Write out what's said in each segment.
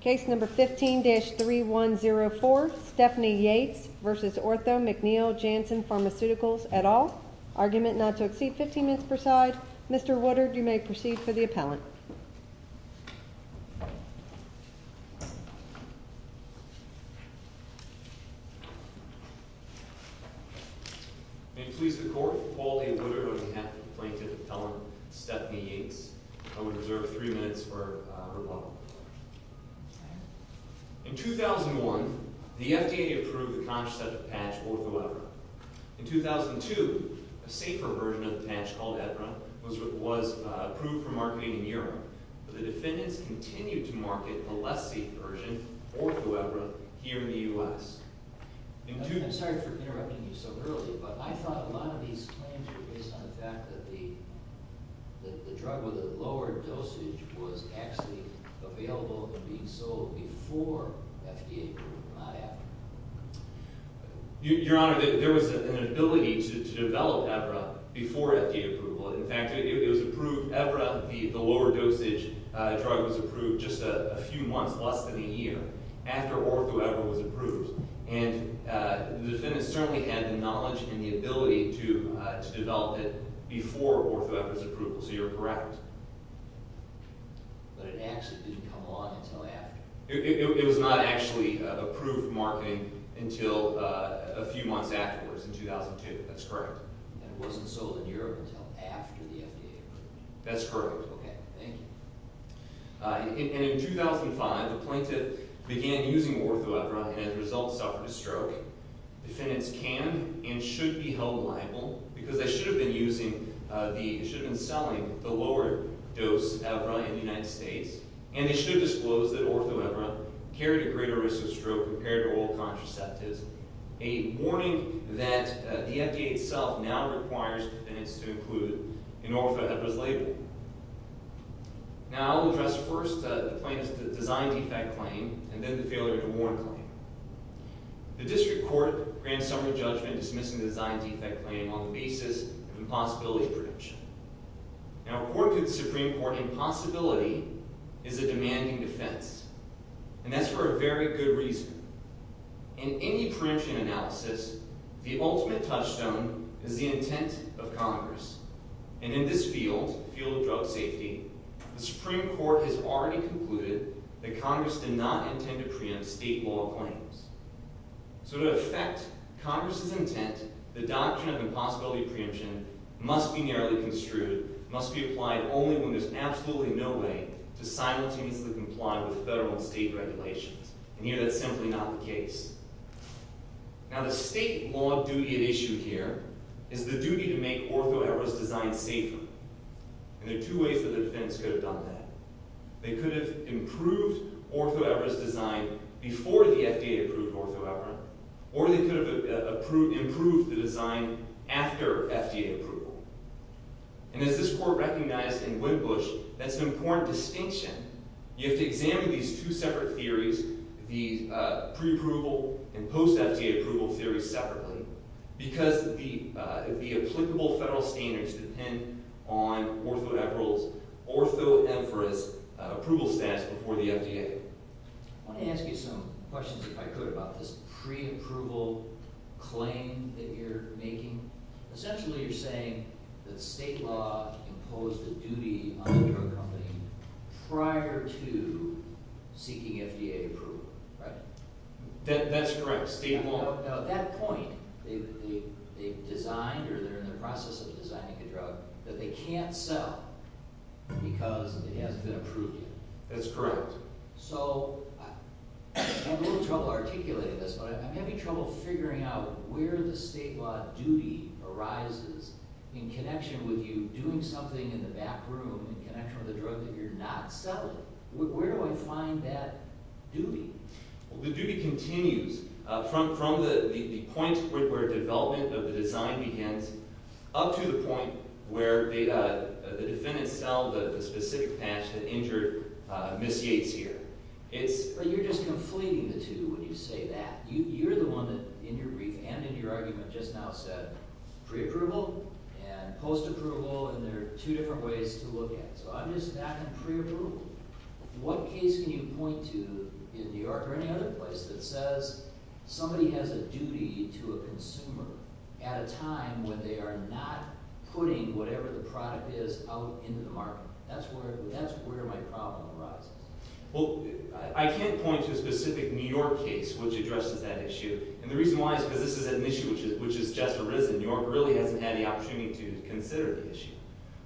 Case number 15-3104, Stephanie Yates v. Ortho-McNeil-Janssen, Pharmaceuticals, et al. Argument not to exceed 15 minutes per side. Mr. Woodard, you may proceed for the appellant. May it please the Court, Paul A. Woodard on behalf of the plaintiff and appellant, Stephanie Yates. I would reserve three minutes for her bottle. In 2001, the FDA approved the contraceptive patch Ortho-Evra. In 2002, a safer version of the patch called Evra was approved for marketing in Europe, but the defendants continued to market the less safe version, Ortho-Evra, here in the U.S. I'm sorry for interrupting you so early, but I thought a lot of these claims were based on the fact that the drug with a lower dosage was actually available and being sold before FDA approved it, not after. Your Honor, there was an ability to develop Evra before FDA approval. In fact, it was approved, Evra, the lower dosage drug, was approved just a few months, less than a year, after Ortho-Evra was approved. And the defendants certainly had the knowledge and the ability to develop it before Ortho-Evra's approval, so you're correct. But it actually didn't come along until after. It was not actually approved for marketing until a few months afterwards, in 2002. That's correct. And it wasn't sold in Europe until after the FDA approved it. That's correct. Okay, thank you. And in 2005, the plaintiff began using Ortho-Evra and, as a result, suffered a stroke. Defendants can and should be held liable because they should have been selling the lower dose Evra in the United States, and they should disclose that Ortho-Evra carried a greater risk of stroke compared to oral contraceptives, a warning that the FDA itself now requires defendants to include in Ortho-Evra's label. Now, I'll address first the plaintiff's design defect claim and then the failure to warn claim. The district court granted summary judgment dismissing the design defect claim on the basis of impossibility prediction. Now, according to the Supreme Court, impossibility is a demanding defense, and that's for a very good reason. In any preemption analysis, the ultimate touchstone is the intent of Congress. And in this field, the field of drug safety, the Supreme Court has already concluded that Congress did not intend to preempt state law claims. So to affect Congress's intent, the doctrine of impossibility preemption must be narrowly construed, must be applied only when there's absolutely no way to simultaneously comply with federal and state regulations. And here, that's simply not the case. Now, the state law duty at issue here is the duty to make Ortho-Evra's design safer. And there are two ways that defendants could have done that. They could have improved Ortho-Evra's design before the FDA approved Ortho-Evra, or they could have improved the design after FDA approval. And as this court recognized in Whitbush, that's an important distinction. You have to examine these two separate theories, the pre-approval and post-FDA approval theories separately, because the applicable federal standards depend on Ortho-Evra's approval status before the FDA. I want to ask you some questions, if I could, about this pre-approval claim that you're making. Essentially, you're saying that state law imposed a duty on a drug company prior to seeking FDA approval, right? That's correct. State law. Now, at that point, they've designed or they're in the process of designing a drug that they can't sell because it hasn't been approved yet. That's correct. So I'm having a little trouble articulating this, but I'm having trouble figuring out where the state law duty arises in connection with you doing something in the back room in connection with a drug that you're not selling. Where do I find that duty? The duty continues from the point where development of the design begins up to the point where the defendants sell the specific patch that injured Ms. Yates here. But you're just conflating the two when you say that. You're the one that, in your brief and in your argument, just now said pre-approval and post-approval, and there are two different ways to look at it. So I'm just not in pre-approval. What case can you point to in New York or any other place that says somebody has a duty to a consumer at a time when they are not putting whatever the product is out into the market? That's where my problem arises. Well, I can't point to a specific New York case which addresses that issue, and the reason why is because this is an issue which has just arisen. New York really hasn't had the opportunity to consider the issue.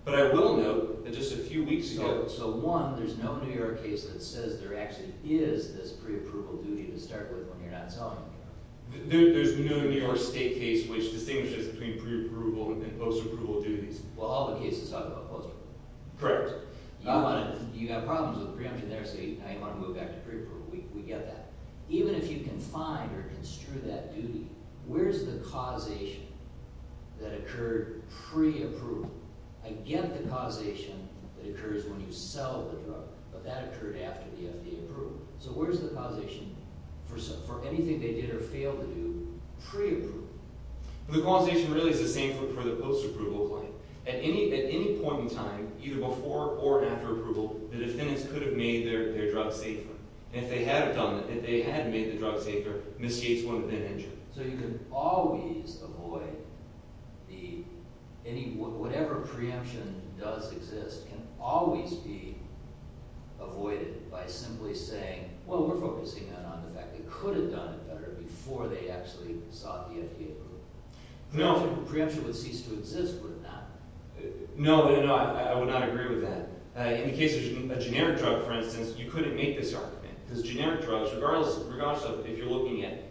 But I will note that just a few weeks ago— So, one, there's no New York case that says there actually is this pre-approval duty to start with when you're not selling. There's no New York State case which distinguishes between pre-approval and post-approval duties. Well, all the cases talk about post-approval. Correct. You have problems with the preemption there, so you might want to move back to pre-approval. We get that. Even if you can find or construe that duty, where's the causation that occurred pre-approval? I get the causation that occurs when you sell the drug, but that occurred after the FDA approval. So where's the causation for anything they did or failed to do pre-approval? The causation really is the same for the post-approval client. At any point in time, either before or after approval, the defendants could have made their drug safer. If they had made the drug safer, Ms. Gates wouldn't have been injured. So you can always avoid the—whatever preemption does exist can always be avoided by simply saying, well, we're focusing on the fact they could have done it better before they actually sought the FDA approval. No. If the preemption would cease to exist, would it not? No, I would not agree with that. In the case of a generic drug, for instance, you couldn't make this argument. Because generic drugs, regardless of if you're looking at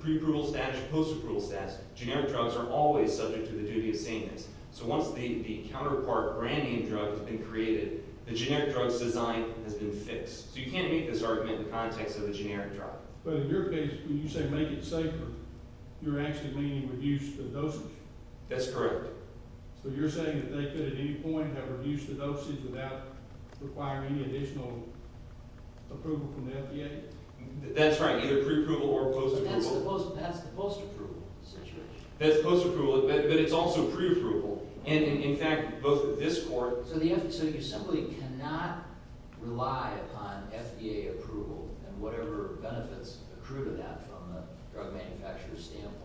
pre-approval status or post-approval status, generic drugs are always subject to the duty of sameness. So once the counterpart brand name drug has been created, the generic drug's design has been fixed. So you can't make this argument in the context of a generic drug. But in your case, when you say make it safer, you're actually meaning reduce the dosage. That's correct. So you're saying that they could at any point have reduced the dosage without requiring additional approval from the FDA? That's right. Either pre-approval or post-approval. That's the post-approval situation. That's post-approval. But it's also pre-approval. And in fact, both this court— So you simply cannot rely upon FDA approval and whatever benefits accrue to that from a drug manufacturer's standpoint.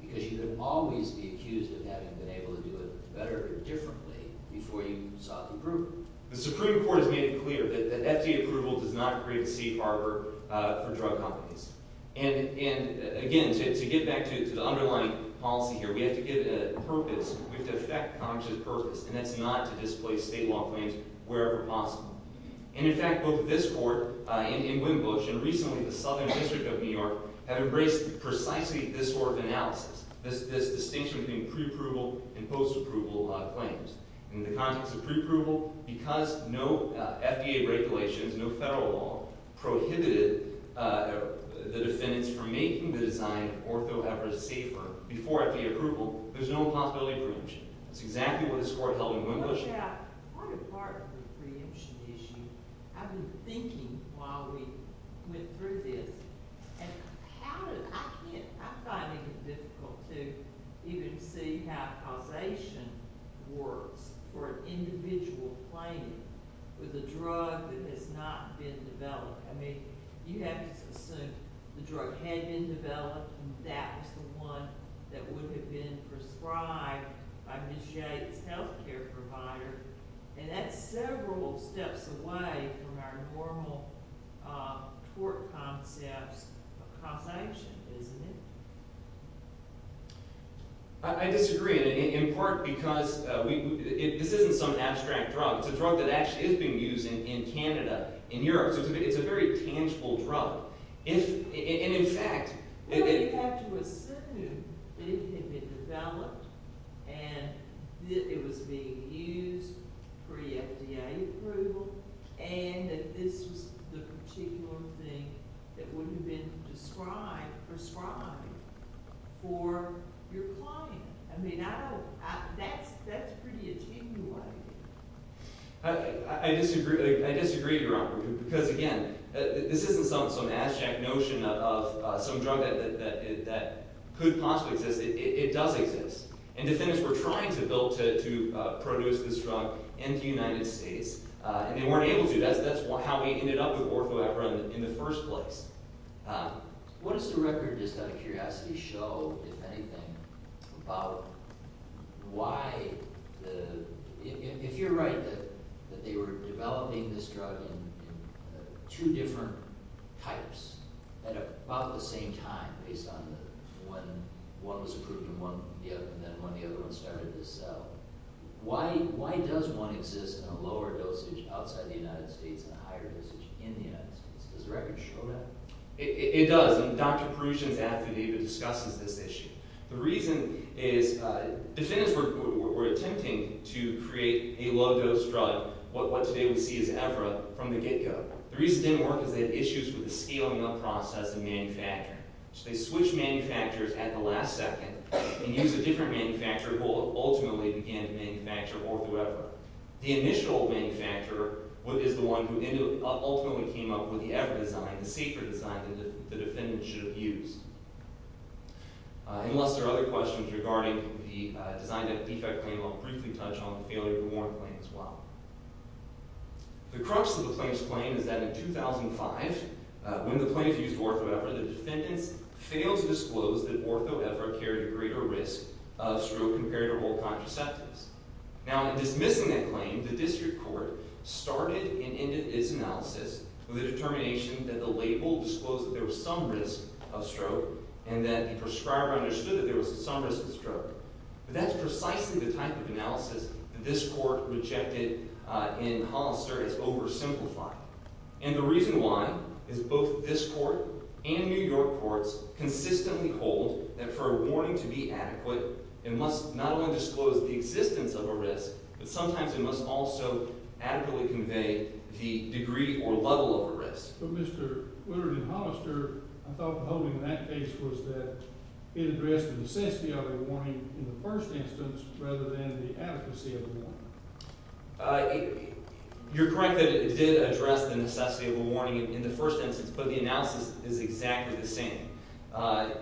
Because you could always be accused of having been able to do it better or differently before you sought approval. The Supreme Court has made it clear that FDA approval does not create a safe harbor for drug companies. And again, to get back to the underlying policy here, we have to give it a purpose. We have to effect conscious purpose. And that's not to displace state law claims wherever possible. And in fact, both this court in Wembush and recently the Southern District of New York have embraced precisely this sort of analysis. This distinction between pre-approval and post-approval claims. In the context of pre-approval, because no FDA regulations, no federal law, prohibited the defendants from making the design of orthohebra safer before FDA approval, there's no possibility of preemption. That's exactly what this court held in Wembush. What a part of the preemption issue. I've been thinking while we went through this. And how did – I can't – I find it difficult to even see how causation works for an individual claim with a drug that has not been developed. I mean you have to assume the drug had been developed and that was the one that would have been prescribed by Ms. Yates' health care provider. And that's several steps away from our normal tort concepts of causation, isn't it? I disagree. And in part because we – this isn't some abstract drug. It's a drug that actually is being used in Canada, in Europe. So it's a very tangible drug. And in fact – Well, you have to assume that it had been developed and that it was being used pre-FDA approval and that this was the particular thing that would have been prescribed for your client. I mean I don't – that's pretty a teaming way. I disagree. I disagree, Your Honor, because again, this isn't some abstract notion of some drug that could possibly exist. It does exist. And defendants were trying to build – to produce this drug into the United States, and they weren't able to. That's how we ended up with orthoeperun in the first place. What does the record just out of curiosity show, if anything, about why the – if you're right that they were developing this drug in two different types at about the same time, based on when one was approved and then when the other one started to sell, why does one exist in a lower dosage outside the United States and a higher dosage in the United States? Does the record show that? It does, and Dr. Prussian's affidavit discusses this issue. The reason is defendants were attempting to create a low-dose drug, what today we see as Evra, from the get-go. The reason it didn't work is they had issues with the scaling-up process of manufacturing. So they switched manufacturers at the last second and used a different manufacturer who ultimately began to manufacture orthoeperun. The initial manufacturer is the one who ultimately came up with the Evra design, the safer design that the defendants should have used. Unless there are other questions regarding the design of the defect claim, I'll briefly touch on the failure-to-warn claim as well. The crux of the claim's claim is that in 2005, when the plaintiffs used orthoeperun, the defendants failed to disclose that orthoeperun carried a greater risk of stroke compared to whole contraceptives. Now, in dismissing that claim, the district court started and ended its analysis with a determination that the label disclosed that there was some risk of stroke and that the prescriber understood that there was some risk of stroke. But that's precisely the type of analysis that this court rejected in Hollister as oversimplified. And the reason why is both this court and New York courts consistently hold that for a warning to be adequate, it must not only disclose the existence of a risk, but sometimes it must also adequately convey the degree or level of a risk. But Mr. Woodard in Hollister, I thought the holding of that case was that it addressed the necessity of a warning in the first instance rather than the advocacy of a warning. You're correct that it did address the necessity of a warning in the first instance, but the analysis is exactly the same. And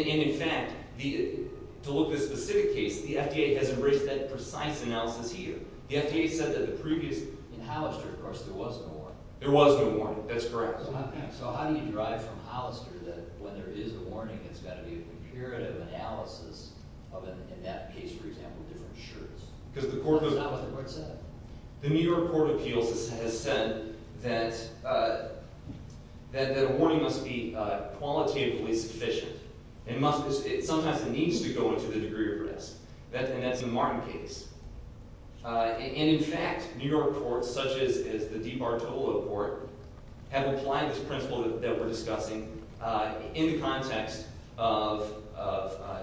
in fact, to look at this specific case, the FDA has embraced that precise analysis here. The FDA said that the previous – In Hollister, of course, there was no warning. There was no warning. That's correct. So how do you derive from Hollister that when there is a warning, it's got to be a comparative analysis of, in that case, for example, different shirts? Because the court was – That's not what the court said. The New York Court of Appeals has said that a warning must be qualitatively sufficient. It sometimes needs to go into the degree of risk, and that's the Martin case. And in fact, New York courts, such as the DiBartolo court, have applied this principle that we're discussing in the context of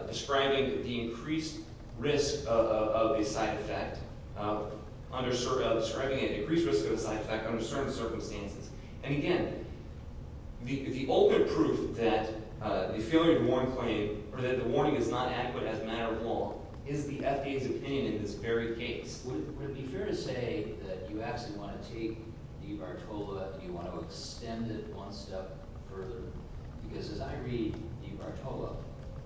describing the increased risk of a side effect – describing an increased risk of a side effect under certain circumstances. And again, the open proof that the failure to warn claim or that the warning is not adequate as a matter of law is the FDA's opinion in this very case. Would it be fair to say that you actually want to take DiBartolo and you want to extend it one step further? Because as I read DiBartolo,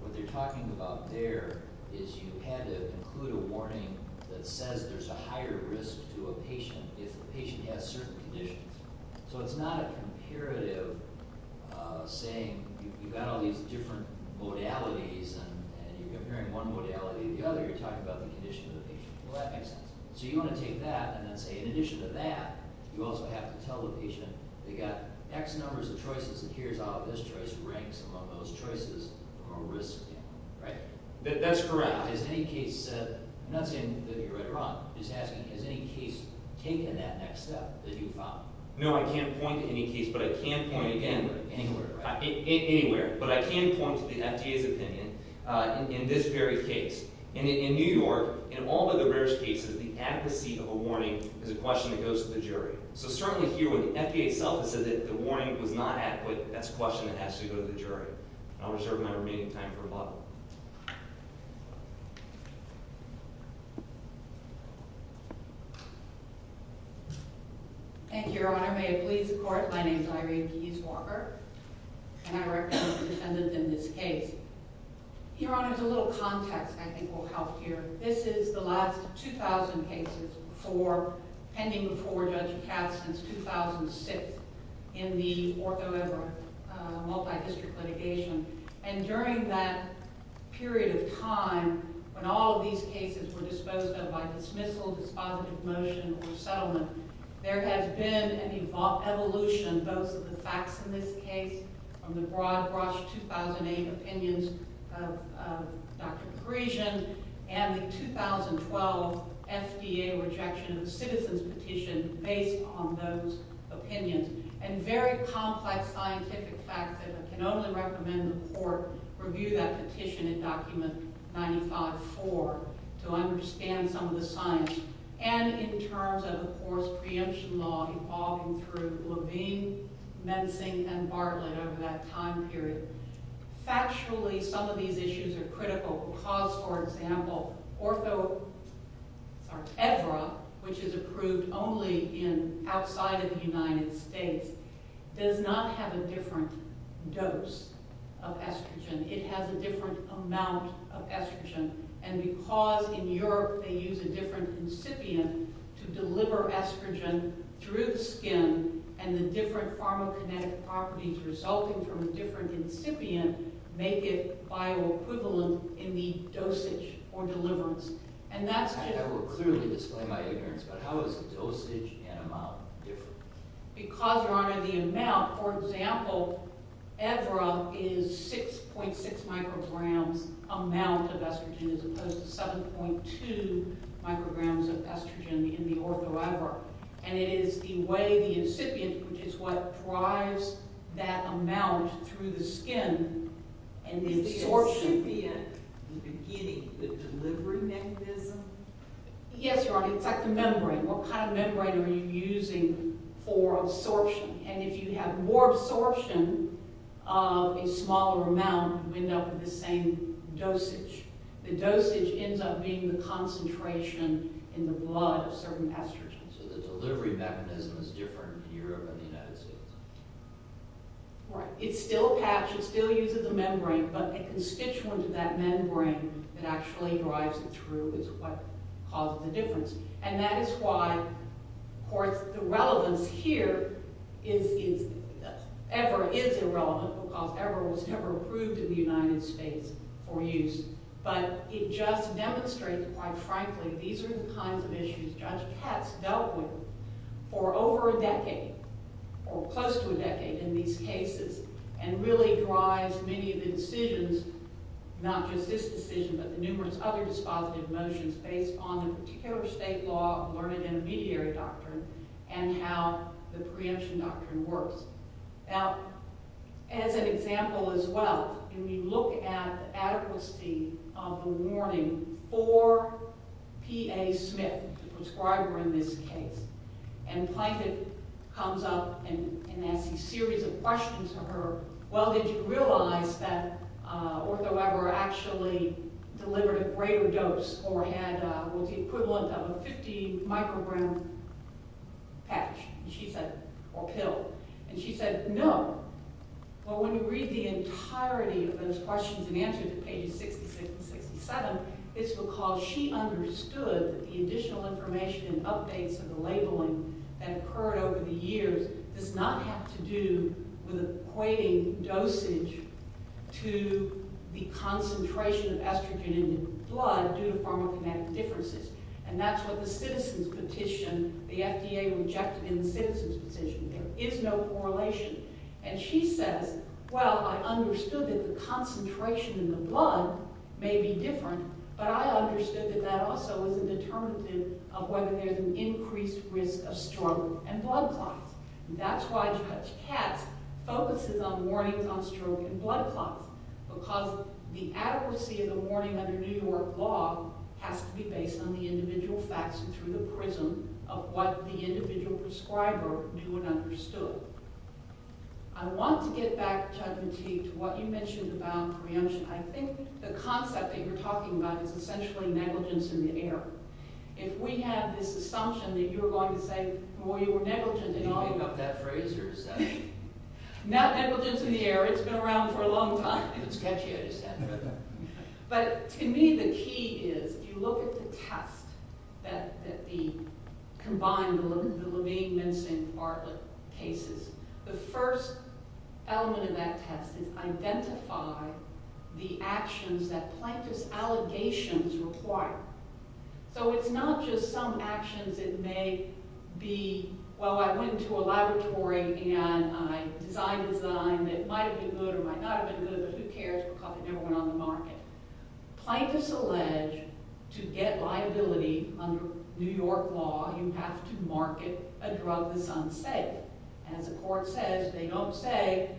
what they're talking about there is you had to include a warning that says there's a higher risk to a patient if the patient has certain conditions. So it's not a comparative saying you've got all these different modalities, and you're comparing one modality to the other. You're talking about the condition of the patient. Well, that makes sense. So you want to take that and then say in addition to that, you also have to tell the patient they've got X numbers of choices, and here's how this choice ranks among those choices, or risk, right? That's correct. I'm not saying that you're right or wrong. I'm just asking, has any case taken that next step that you found? No, I can't point to any case, but I can point again. Anywhere, right? Anywhere. But I can point to the FDA's opinion in this very case. In New York, in all of the rarest cases, the adequacy of a warning is a question that goes to the jury. So certainly here, when the FDA itself has said that the warning was not adequate, that's a question that has to go to the jury. And I'll reserve my remaining time for rebuttal. Thank you, Your Honor. May it please the Court, my name is Irene Deese Walker, and I represent the defendant in this case. Your Honor, just a little context I think will help here. This is the last 2,000 cases pending before Judge Katz since 2006 in the Ortho Evra multidistrict litigation. And during that period of time, when all of these cases were disposed of by dismissal, dispositive motion, or settlement, there has been an evolution, both of the facts in this case, from the broad-brush 2008 opinions of Dr. Griesion, and the 2012 FDA rejection of the citizen's petition based on those opinions. And very complex scientific facts that I can only recommend the Court review that petition in Document 95-4 to understand some of the science. And in terms of, of course, preemption law evolving through Levine, Mensing, and Bartlett over that time period. Factually, some of these issues are critical because, for example, Ortho Evra, which is approved only outside of the United States, does not have a different dose of estrogen, it has a different amount of estrogen. And because in Europe they use a different incipient to deliver estrogen through the skin, and the different pharmacokinetic properties resulting from a different incipient make it bioequivalent in the dosage or deliverance. And that's just... I will clearly display my ignorance, but how is dosage and amount different? Because, Your Honor, the amount, for example, Evra is 6.6 micrograms amount of estrogen, as opposed to 7.2 micrograms of estrogen in the Ortho Evra. And it is the way the incipient, which is what drives that amount through the skin, and the absorption... Is the incipient the beginning, the delivery mechanism? Yes, Your Honor, it's like the membrane. What kind of membrane are you using for absorption? And if you have more absorption of a smaller amount, you end up with the same dosage. The dosage ends up being the concentration in the blood of certain estrogens. So the delivery mechanism is different in Europe and the United States? Right. It's still a patch. It still uses a membrane. But a constituent of that membrane that actually drives it through is what causes the difference. And that is why, of course, the relevance here is Evra is irrelevant because Evra was never approved in the United States for use. But it just demonstrates, quite frankly, these are the kinds of issues Judge Katz dealt with for over a decade, or close to a decade in these cases, and really drives many of the decisions, not just this decision, but the numerous other dispositive motions based on the particular state law of learned intermediary doctrine and how the preemption doctrine works. Now, as an example as well, if we look at the adequacy of the warning for P.A. Smith, the prescriber in this case, and Plankton comes up and asks a series of questions to her, well, did you realize that OrthoEvra actually delivered a greater dose or had the equivalent of a 50-microgram patch or pill? And she said, no. Well, when you read the entirety of those questions and answer them, pages 66 and 67, it's because she understood that the additional information and updates of the labeling that occurred over the years does not have to do with equating dosage to the concentration of estrogen in the blood due to pharmacokinetic differences. And that's what the citizens petition, the FDA rejected in the citizens petition. There is no correlation. And she says, well, I understood that the concentration in the blood may be different, but I understood that that also is a determinative of whether there's an increased risk of stroke and blood clots. And that's why Judge Katz focuses on warnings on stroke and blood clots, because the adequacy of the warning under New York law has to be based on the individual facts and through the prism of what the individual prescriber knew and understood. I want to get back, Judge Mattei, to what you mentioned about preemption. I think the concept that you're talking about is essentially negligence in the air. If we have this assumption that you're going to say, well, you were negligent in all of that. Did you make up that phrase? Not negligence in the air. It's been around for a long time. It's catchy, I just said. But to me, the key is if you look at the test that combined the Levine, Minson, Bartlett cases, the first element of that test is identify the actions that plaintiff's allegations require. So it's not just some actions. It may be, well, I went into a laboratory and I designed a design that might have been good or might not have been good, but who cares because it never went on the market. Plaintiffs allege to get liability under New York law, you have to market a drug that's unsafe. As the court says, they don't say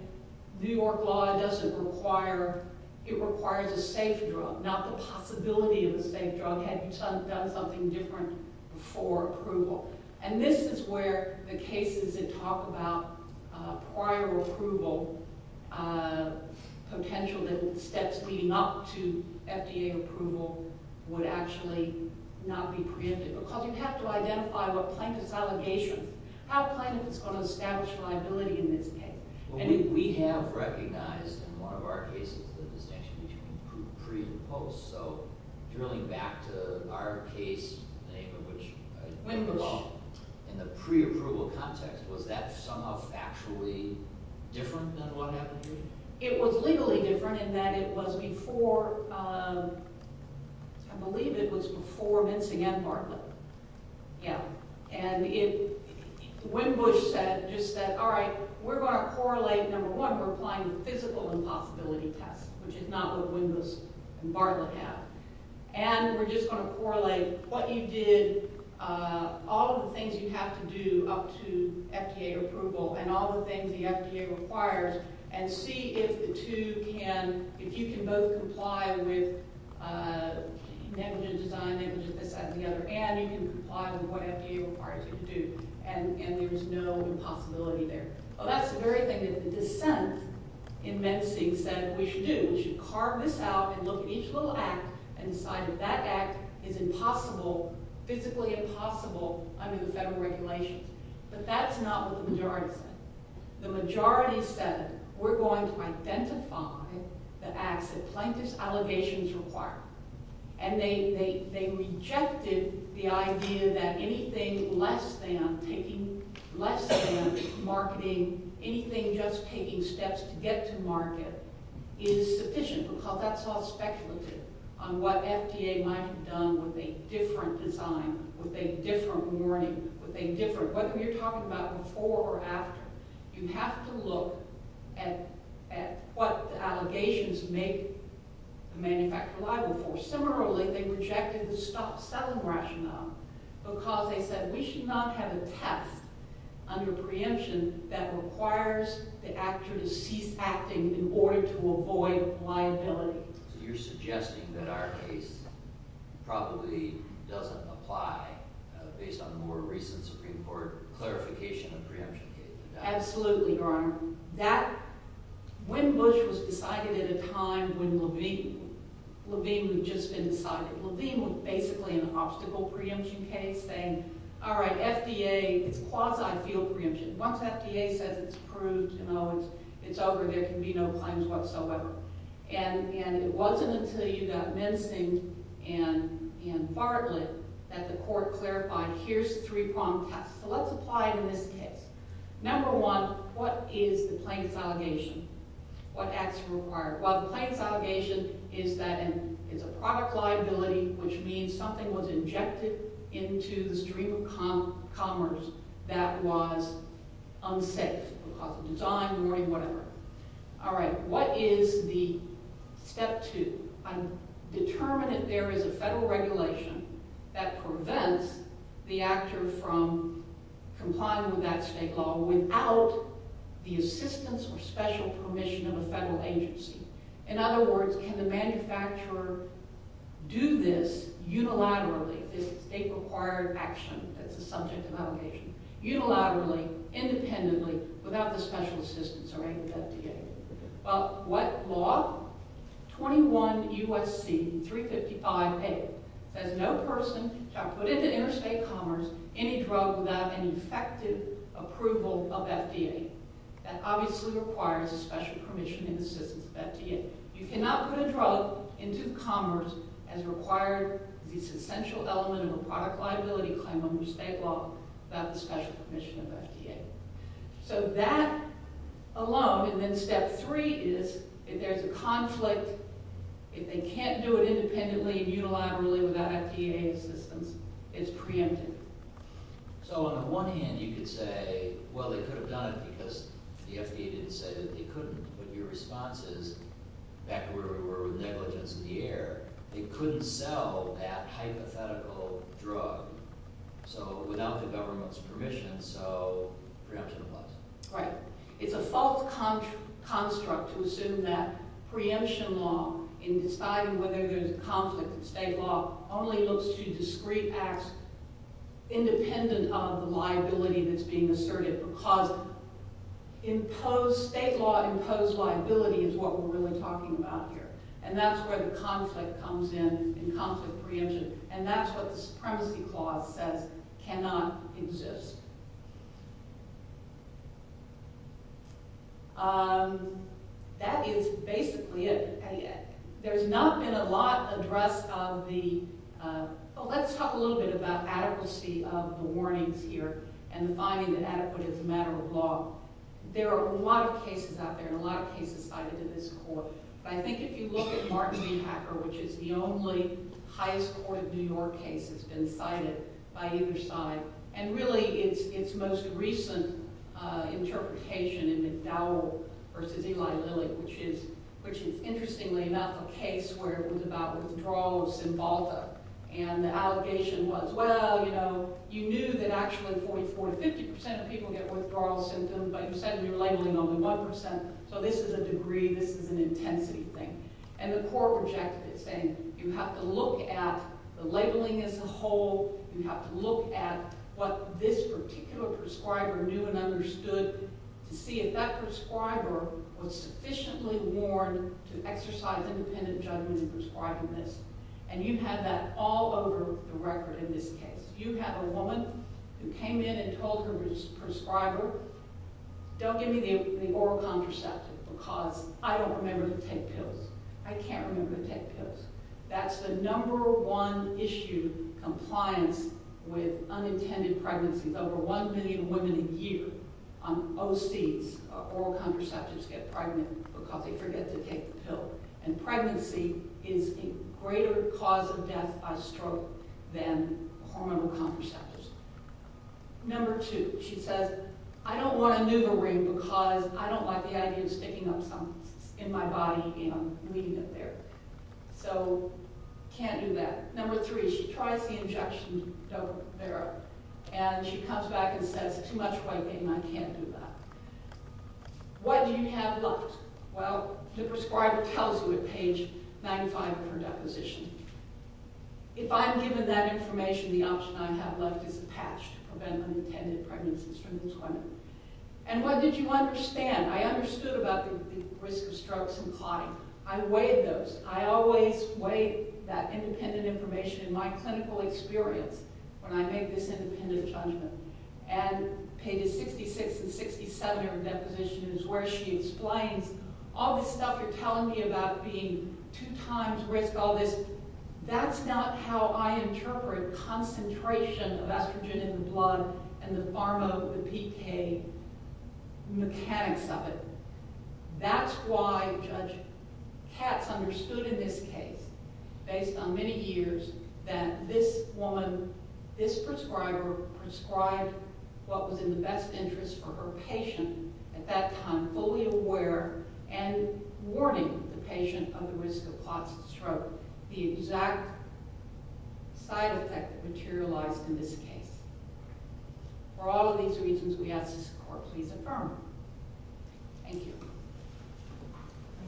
New York law doesn't require, it requires a safe drug, not the possibility of a safe drug had you done something different before approval. And this is where the cases that talk about prior approval, potential steps leading up to FDA approval, would actually not be preempted because you have to identify what plaintiff's allegations, how plaintiff is going to establish liability in this case. We have recognized in one of our cases the distinction between pre and post. So drilling back to our case, in the pre-approval context, was that somehow factually different than what happened here? It was legally different in that it was before, I believe it was before Minson and Bartlett. Yeah. And it, when Bush said, just said, all right, we're going to correlate, number one, we're applying the physical impossibility test, which is not what Windows and Bartlett have. And we're just going to correlate what you did, all of the things you have to do up to FDA approval, and all the things the FDA requires, and see if the two can, if you can both comply with negligent design, negligent this, that, and the other, and you can comply with what FDA requires you to do. And there's no impossibility there. Well, that's the very thing that the dissent in Mensing said we should do. We should carve this out and look at each little act and decide if that act is impossible, physically impossible under the federal regulations. But that's not what the majority said. The majority said we're going to identify the acts that plaintiff's allegations require. And they rejected the idea that anything less than taking, less than marketing, anything just taking steps to get to market is sufficient because that's all speculative on what FDA might have done with a different design, with a different warning, with a different, whether you're talking about before or after, you have to look at what the allegations make the manufacturer liable for. Similarly, they rejected the stop-selling rationale because they said we should not have a test under preemption that requires the actor to cease acting in order to avoid liability. So you're suggesting that our case probably doesn't apply, based on more recent Supreme Court clarification of preemption cases. Absolutely, Your Honor. That, when Bush was decided at a time when Levine, Levine had just been decided, Levine was basically an obstacle preemption case saying, all right, FDA, it's quasi field preemption. Once FDA says it's approved and, oh, it's over, there can be no claims whatsoever. And it wasn't until you got Mensing and Farley that the court clarified, here's three-pronged tests. So let's apply it in this case. Number one, what is the plaintiff's allegation? What acts are required? Well, the plaintiff's allegation is that it's a product liability, which means something was injected into the stream of commerce that was unsafe because of design, warning, whatever. All right. What is the step two? Determine if there is a federal regulation that prevents the actor from complying with that state law without the assistance or special permission of a federal agency. In other words, can the manufacturer do this unilaterally, this state-required action that's a subject of allegation, unilaterally, independently, without the special assistance or aid of FDA? Well, what law? 21 U.S.C. 355A says no person shall put into interstate commerce any drug without any effective approval of FDA. That obviously requires a special permission and assistance of FDA. You cannot put a drug into commerce as required. It's an essential element of a product liability claim under state law without the special permission of FDA. So that alone, and then step three is if there's a conflict, if they can't do it independently and unilaterally without FDA assistance, it's preempted. So on the one hand, you could say, well, they could have done it because the FDA didn't say that they couldn't. But your response is back where we were with negligence in the air. They couldn't sell that hypothetical drug. So without the government's permission, so preemption applies. Right. It's a false construct to assume that preemption law in deciding whether there's a conflict in state law only looks to discrete acts independent of the liability that's being asserted because state law imposed liability is what we're really talking about here. And that's where the conflict comes in, in conflict preemption. And that's what the Supremacy Clause says cannot exist. That is basically it. There's not been a lot addressed of the – well, let's talk a little bit about adequacy of the warnings here and the finding that adequate is a matter of law. There are a lot of cases out there and a lot of cases cited in this court. But I think if you look at Martin v. Hacker, which is the only highest court of New York case that's been cited by either side, and really its most recent interpretation in McDowell v. Eli Lilly, which is interestingly enough a case where it was about withdrawal of Cymbalta. And the allegation was, well, you know, you knew that actually 44 to 50 percent of people get withdrawal symptoms, but you said you were labeling only 1 percent. So this is a degree, this is an intensity thing. And the court projected it, saying you have to look at the labeling as a whole. You have to look at what this particular prescriber knew and understood to see if that prescriber was sufficiently warned to exercise independent judgment in prescribing this. And you had that all over the record in this case. You have a woman who came in and told her prescriber, don't give me the oral contraceptive because I don't remember to take pills. I can't remember to take pills. That's the number one issue, compliance with unintended pregnancies. Over 1 million women a year on OCs, oral contraceptives, get pregnant because they forget to take the pill. And pregnancy is a greater cause of death by stroke than hormonal contraceptives. Number two, she says, I don't want to do the ring because I don't like the idea of sticking up something in my body and I'm leaving it there. So can't do that. Number three, she tries the injection, and she comes back and says, too much wiping, I can't do that. What do you have left? Well, the prescriber tells you at page 95 of her deposition. If I'm given that information, the option I have left is a patch to prevent unintended pregnancies from these women. And what did you understand? I understood about the risk of strokes and clotting. I weighed those. I always weigh that independent information in my clinical experience when I make this independent judgment. And pages 66 and 67 of her deposition is where she explains, all this stuff you're telling me about being two times risk, all this, that's not how I interpret concentration of estrogen in the blood and the pharma, the PK mechanics of it. That's why Judge Katz understood in this case, based on many years, that this woman, this prescriber prescribed what was in the best interest for her patient at that time, fully aware and warning the patient of the risk of clots and stroke. The exact side effect materialized in this case. For all of these reasons, we ask that this Court please affirm. Thank you.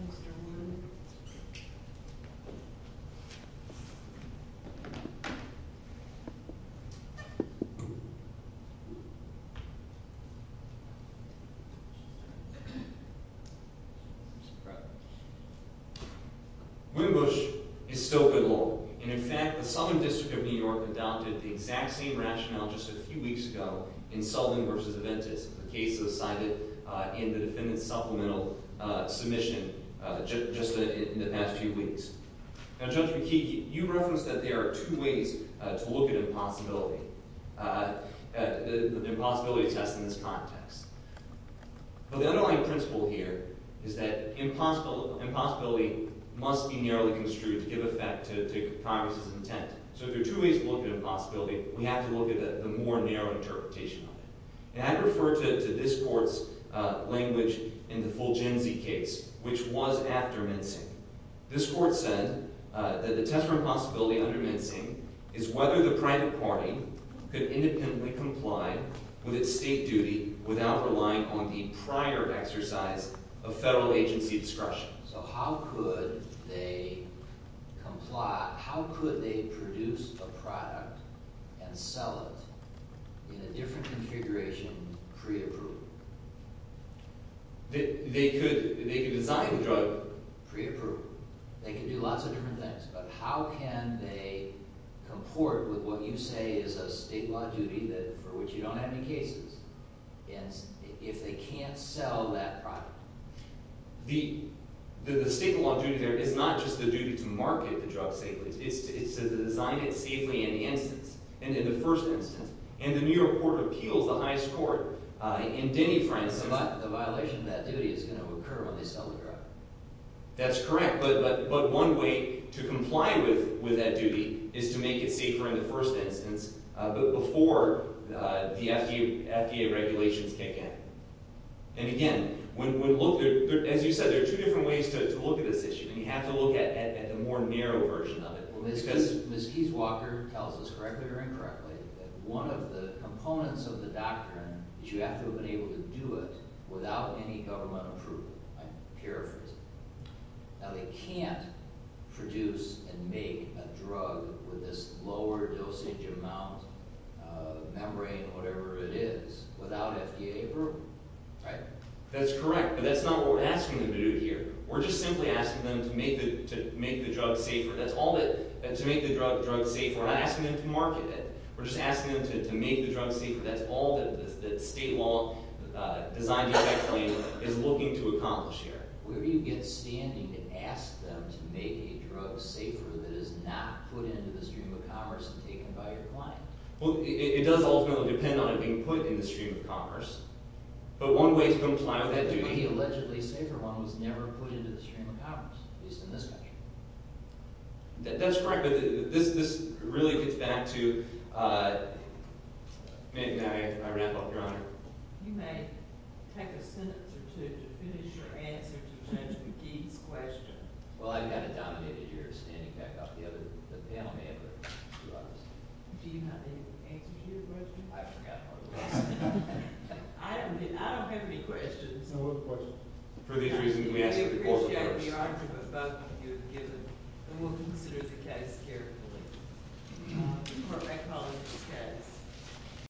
Mr. Warren. Wimbush is still good law. And, in fact, the Sullivan District of New York adopted the exact same rationale just a few weeks ago in Sullivan v. Aventis, a case that was cited in the defendant's supplemental submission just in the past few weeks. Now, Judge McKeague, you referenced that there are two ways to look at impossibility, the impossibility test in this context. But the underlying principle here is that impossibility must be narrowly construed to give effect to Congress's intent. So if there are two ways to look at impossibility, we have to look at the more narrow interpretation of it. And I refer to this Court's language in the Fulgenzi case, which was after mincing. This Court said that the test for impossibility under mincing is whether the private party could independently comply with its state duty without relying on the prior exercise of federal agency discretion. So how could they produce a product and sell it in a different configuration pre-approval? They could design the drug pre-approval. They could do lots of different things. But how can they comport with what you say is a state law duty for which you don't have any cases if they can't sell that product? The state law duty there is not just the duty to market the drug safely. It's to design it safely in the instance, in the first instance. And the New York Court of Appeals, the highest court, in Denny, France… But the violation of that duty is going to occur when they sell the drug. That's correct. But one way to comply with that duty is to make it safer in the first instance, but before the FDA regulations kick in. And again, as you said, there are two different ways to look at this issue. And you have to look at the more narrow version of it. Ms. Kieswalker tells us correctly or incorrectly that one of the components of the doctrine is you have to have been able to do it without any government approval. I'm paraphrasing. Now, they can't produce and make a drug with this lower dosage amount of membrane, whatever it is, without FDA approval, right? That's correct. But that's not what we're asking them to do here. We're just simply asking them to make the drug safer. That's all that – to make the drug safer. We're not asking them to market it. We're just asking them to make the drug safer. That's all that the state law design defect claim is looking to accomplish here. Where do you get standing to ask them to make a drug safer that is not put into the stream of commerce and taken by your client? Well, it does ultimately depend on it being put in the stream of commerce. But one way to comply with that duty – But the allegedly safer one was never put into the stream of commerce, at least in this country. That's correct, but this really gets back to – may I wrap up, Your Honor? You may take a sentence or two to finish your answer to Judge McGee's question. Well, I've got to dominate it. You're standing back up. The other – the panel may have a few others. Do you have any answer to your question? I forgot part of it. I don't have any questions. No more questions. For these reasons, let me ask the court first. For these reasons, the argument both of you have given. And we'll consider the case carefully. We're recommending this case.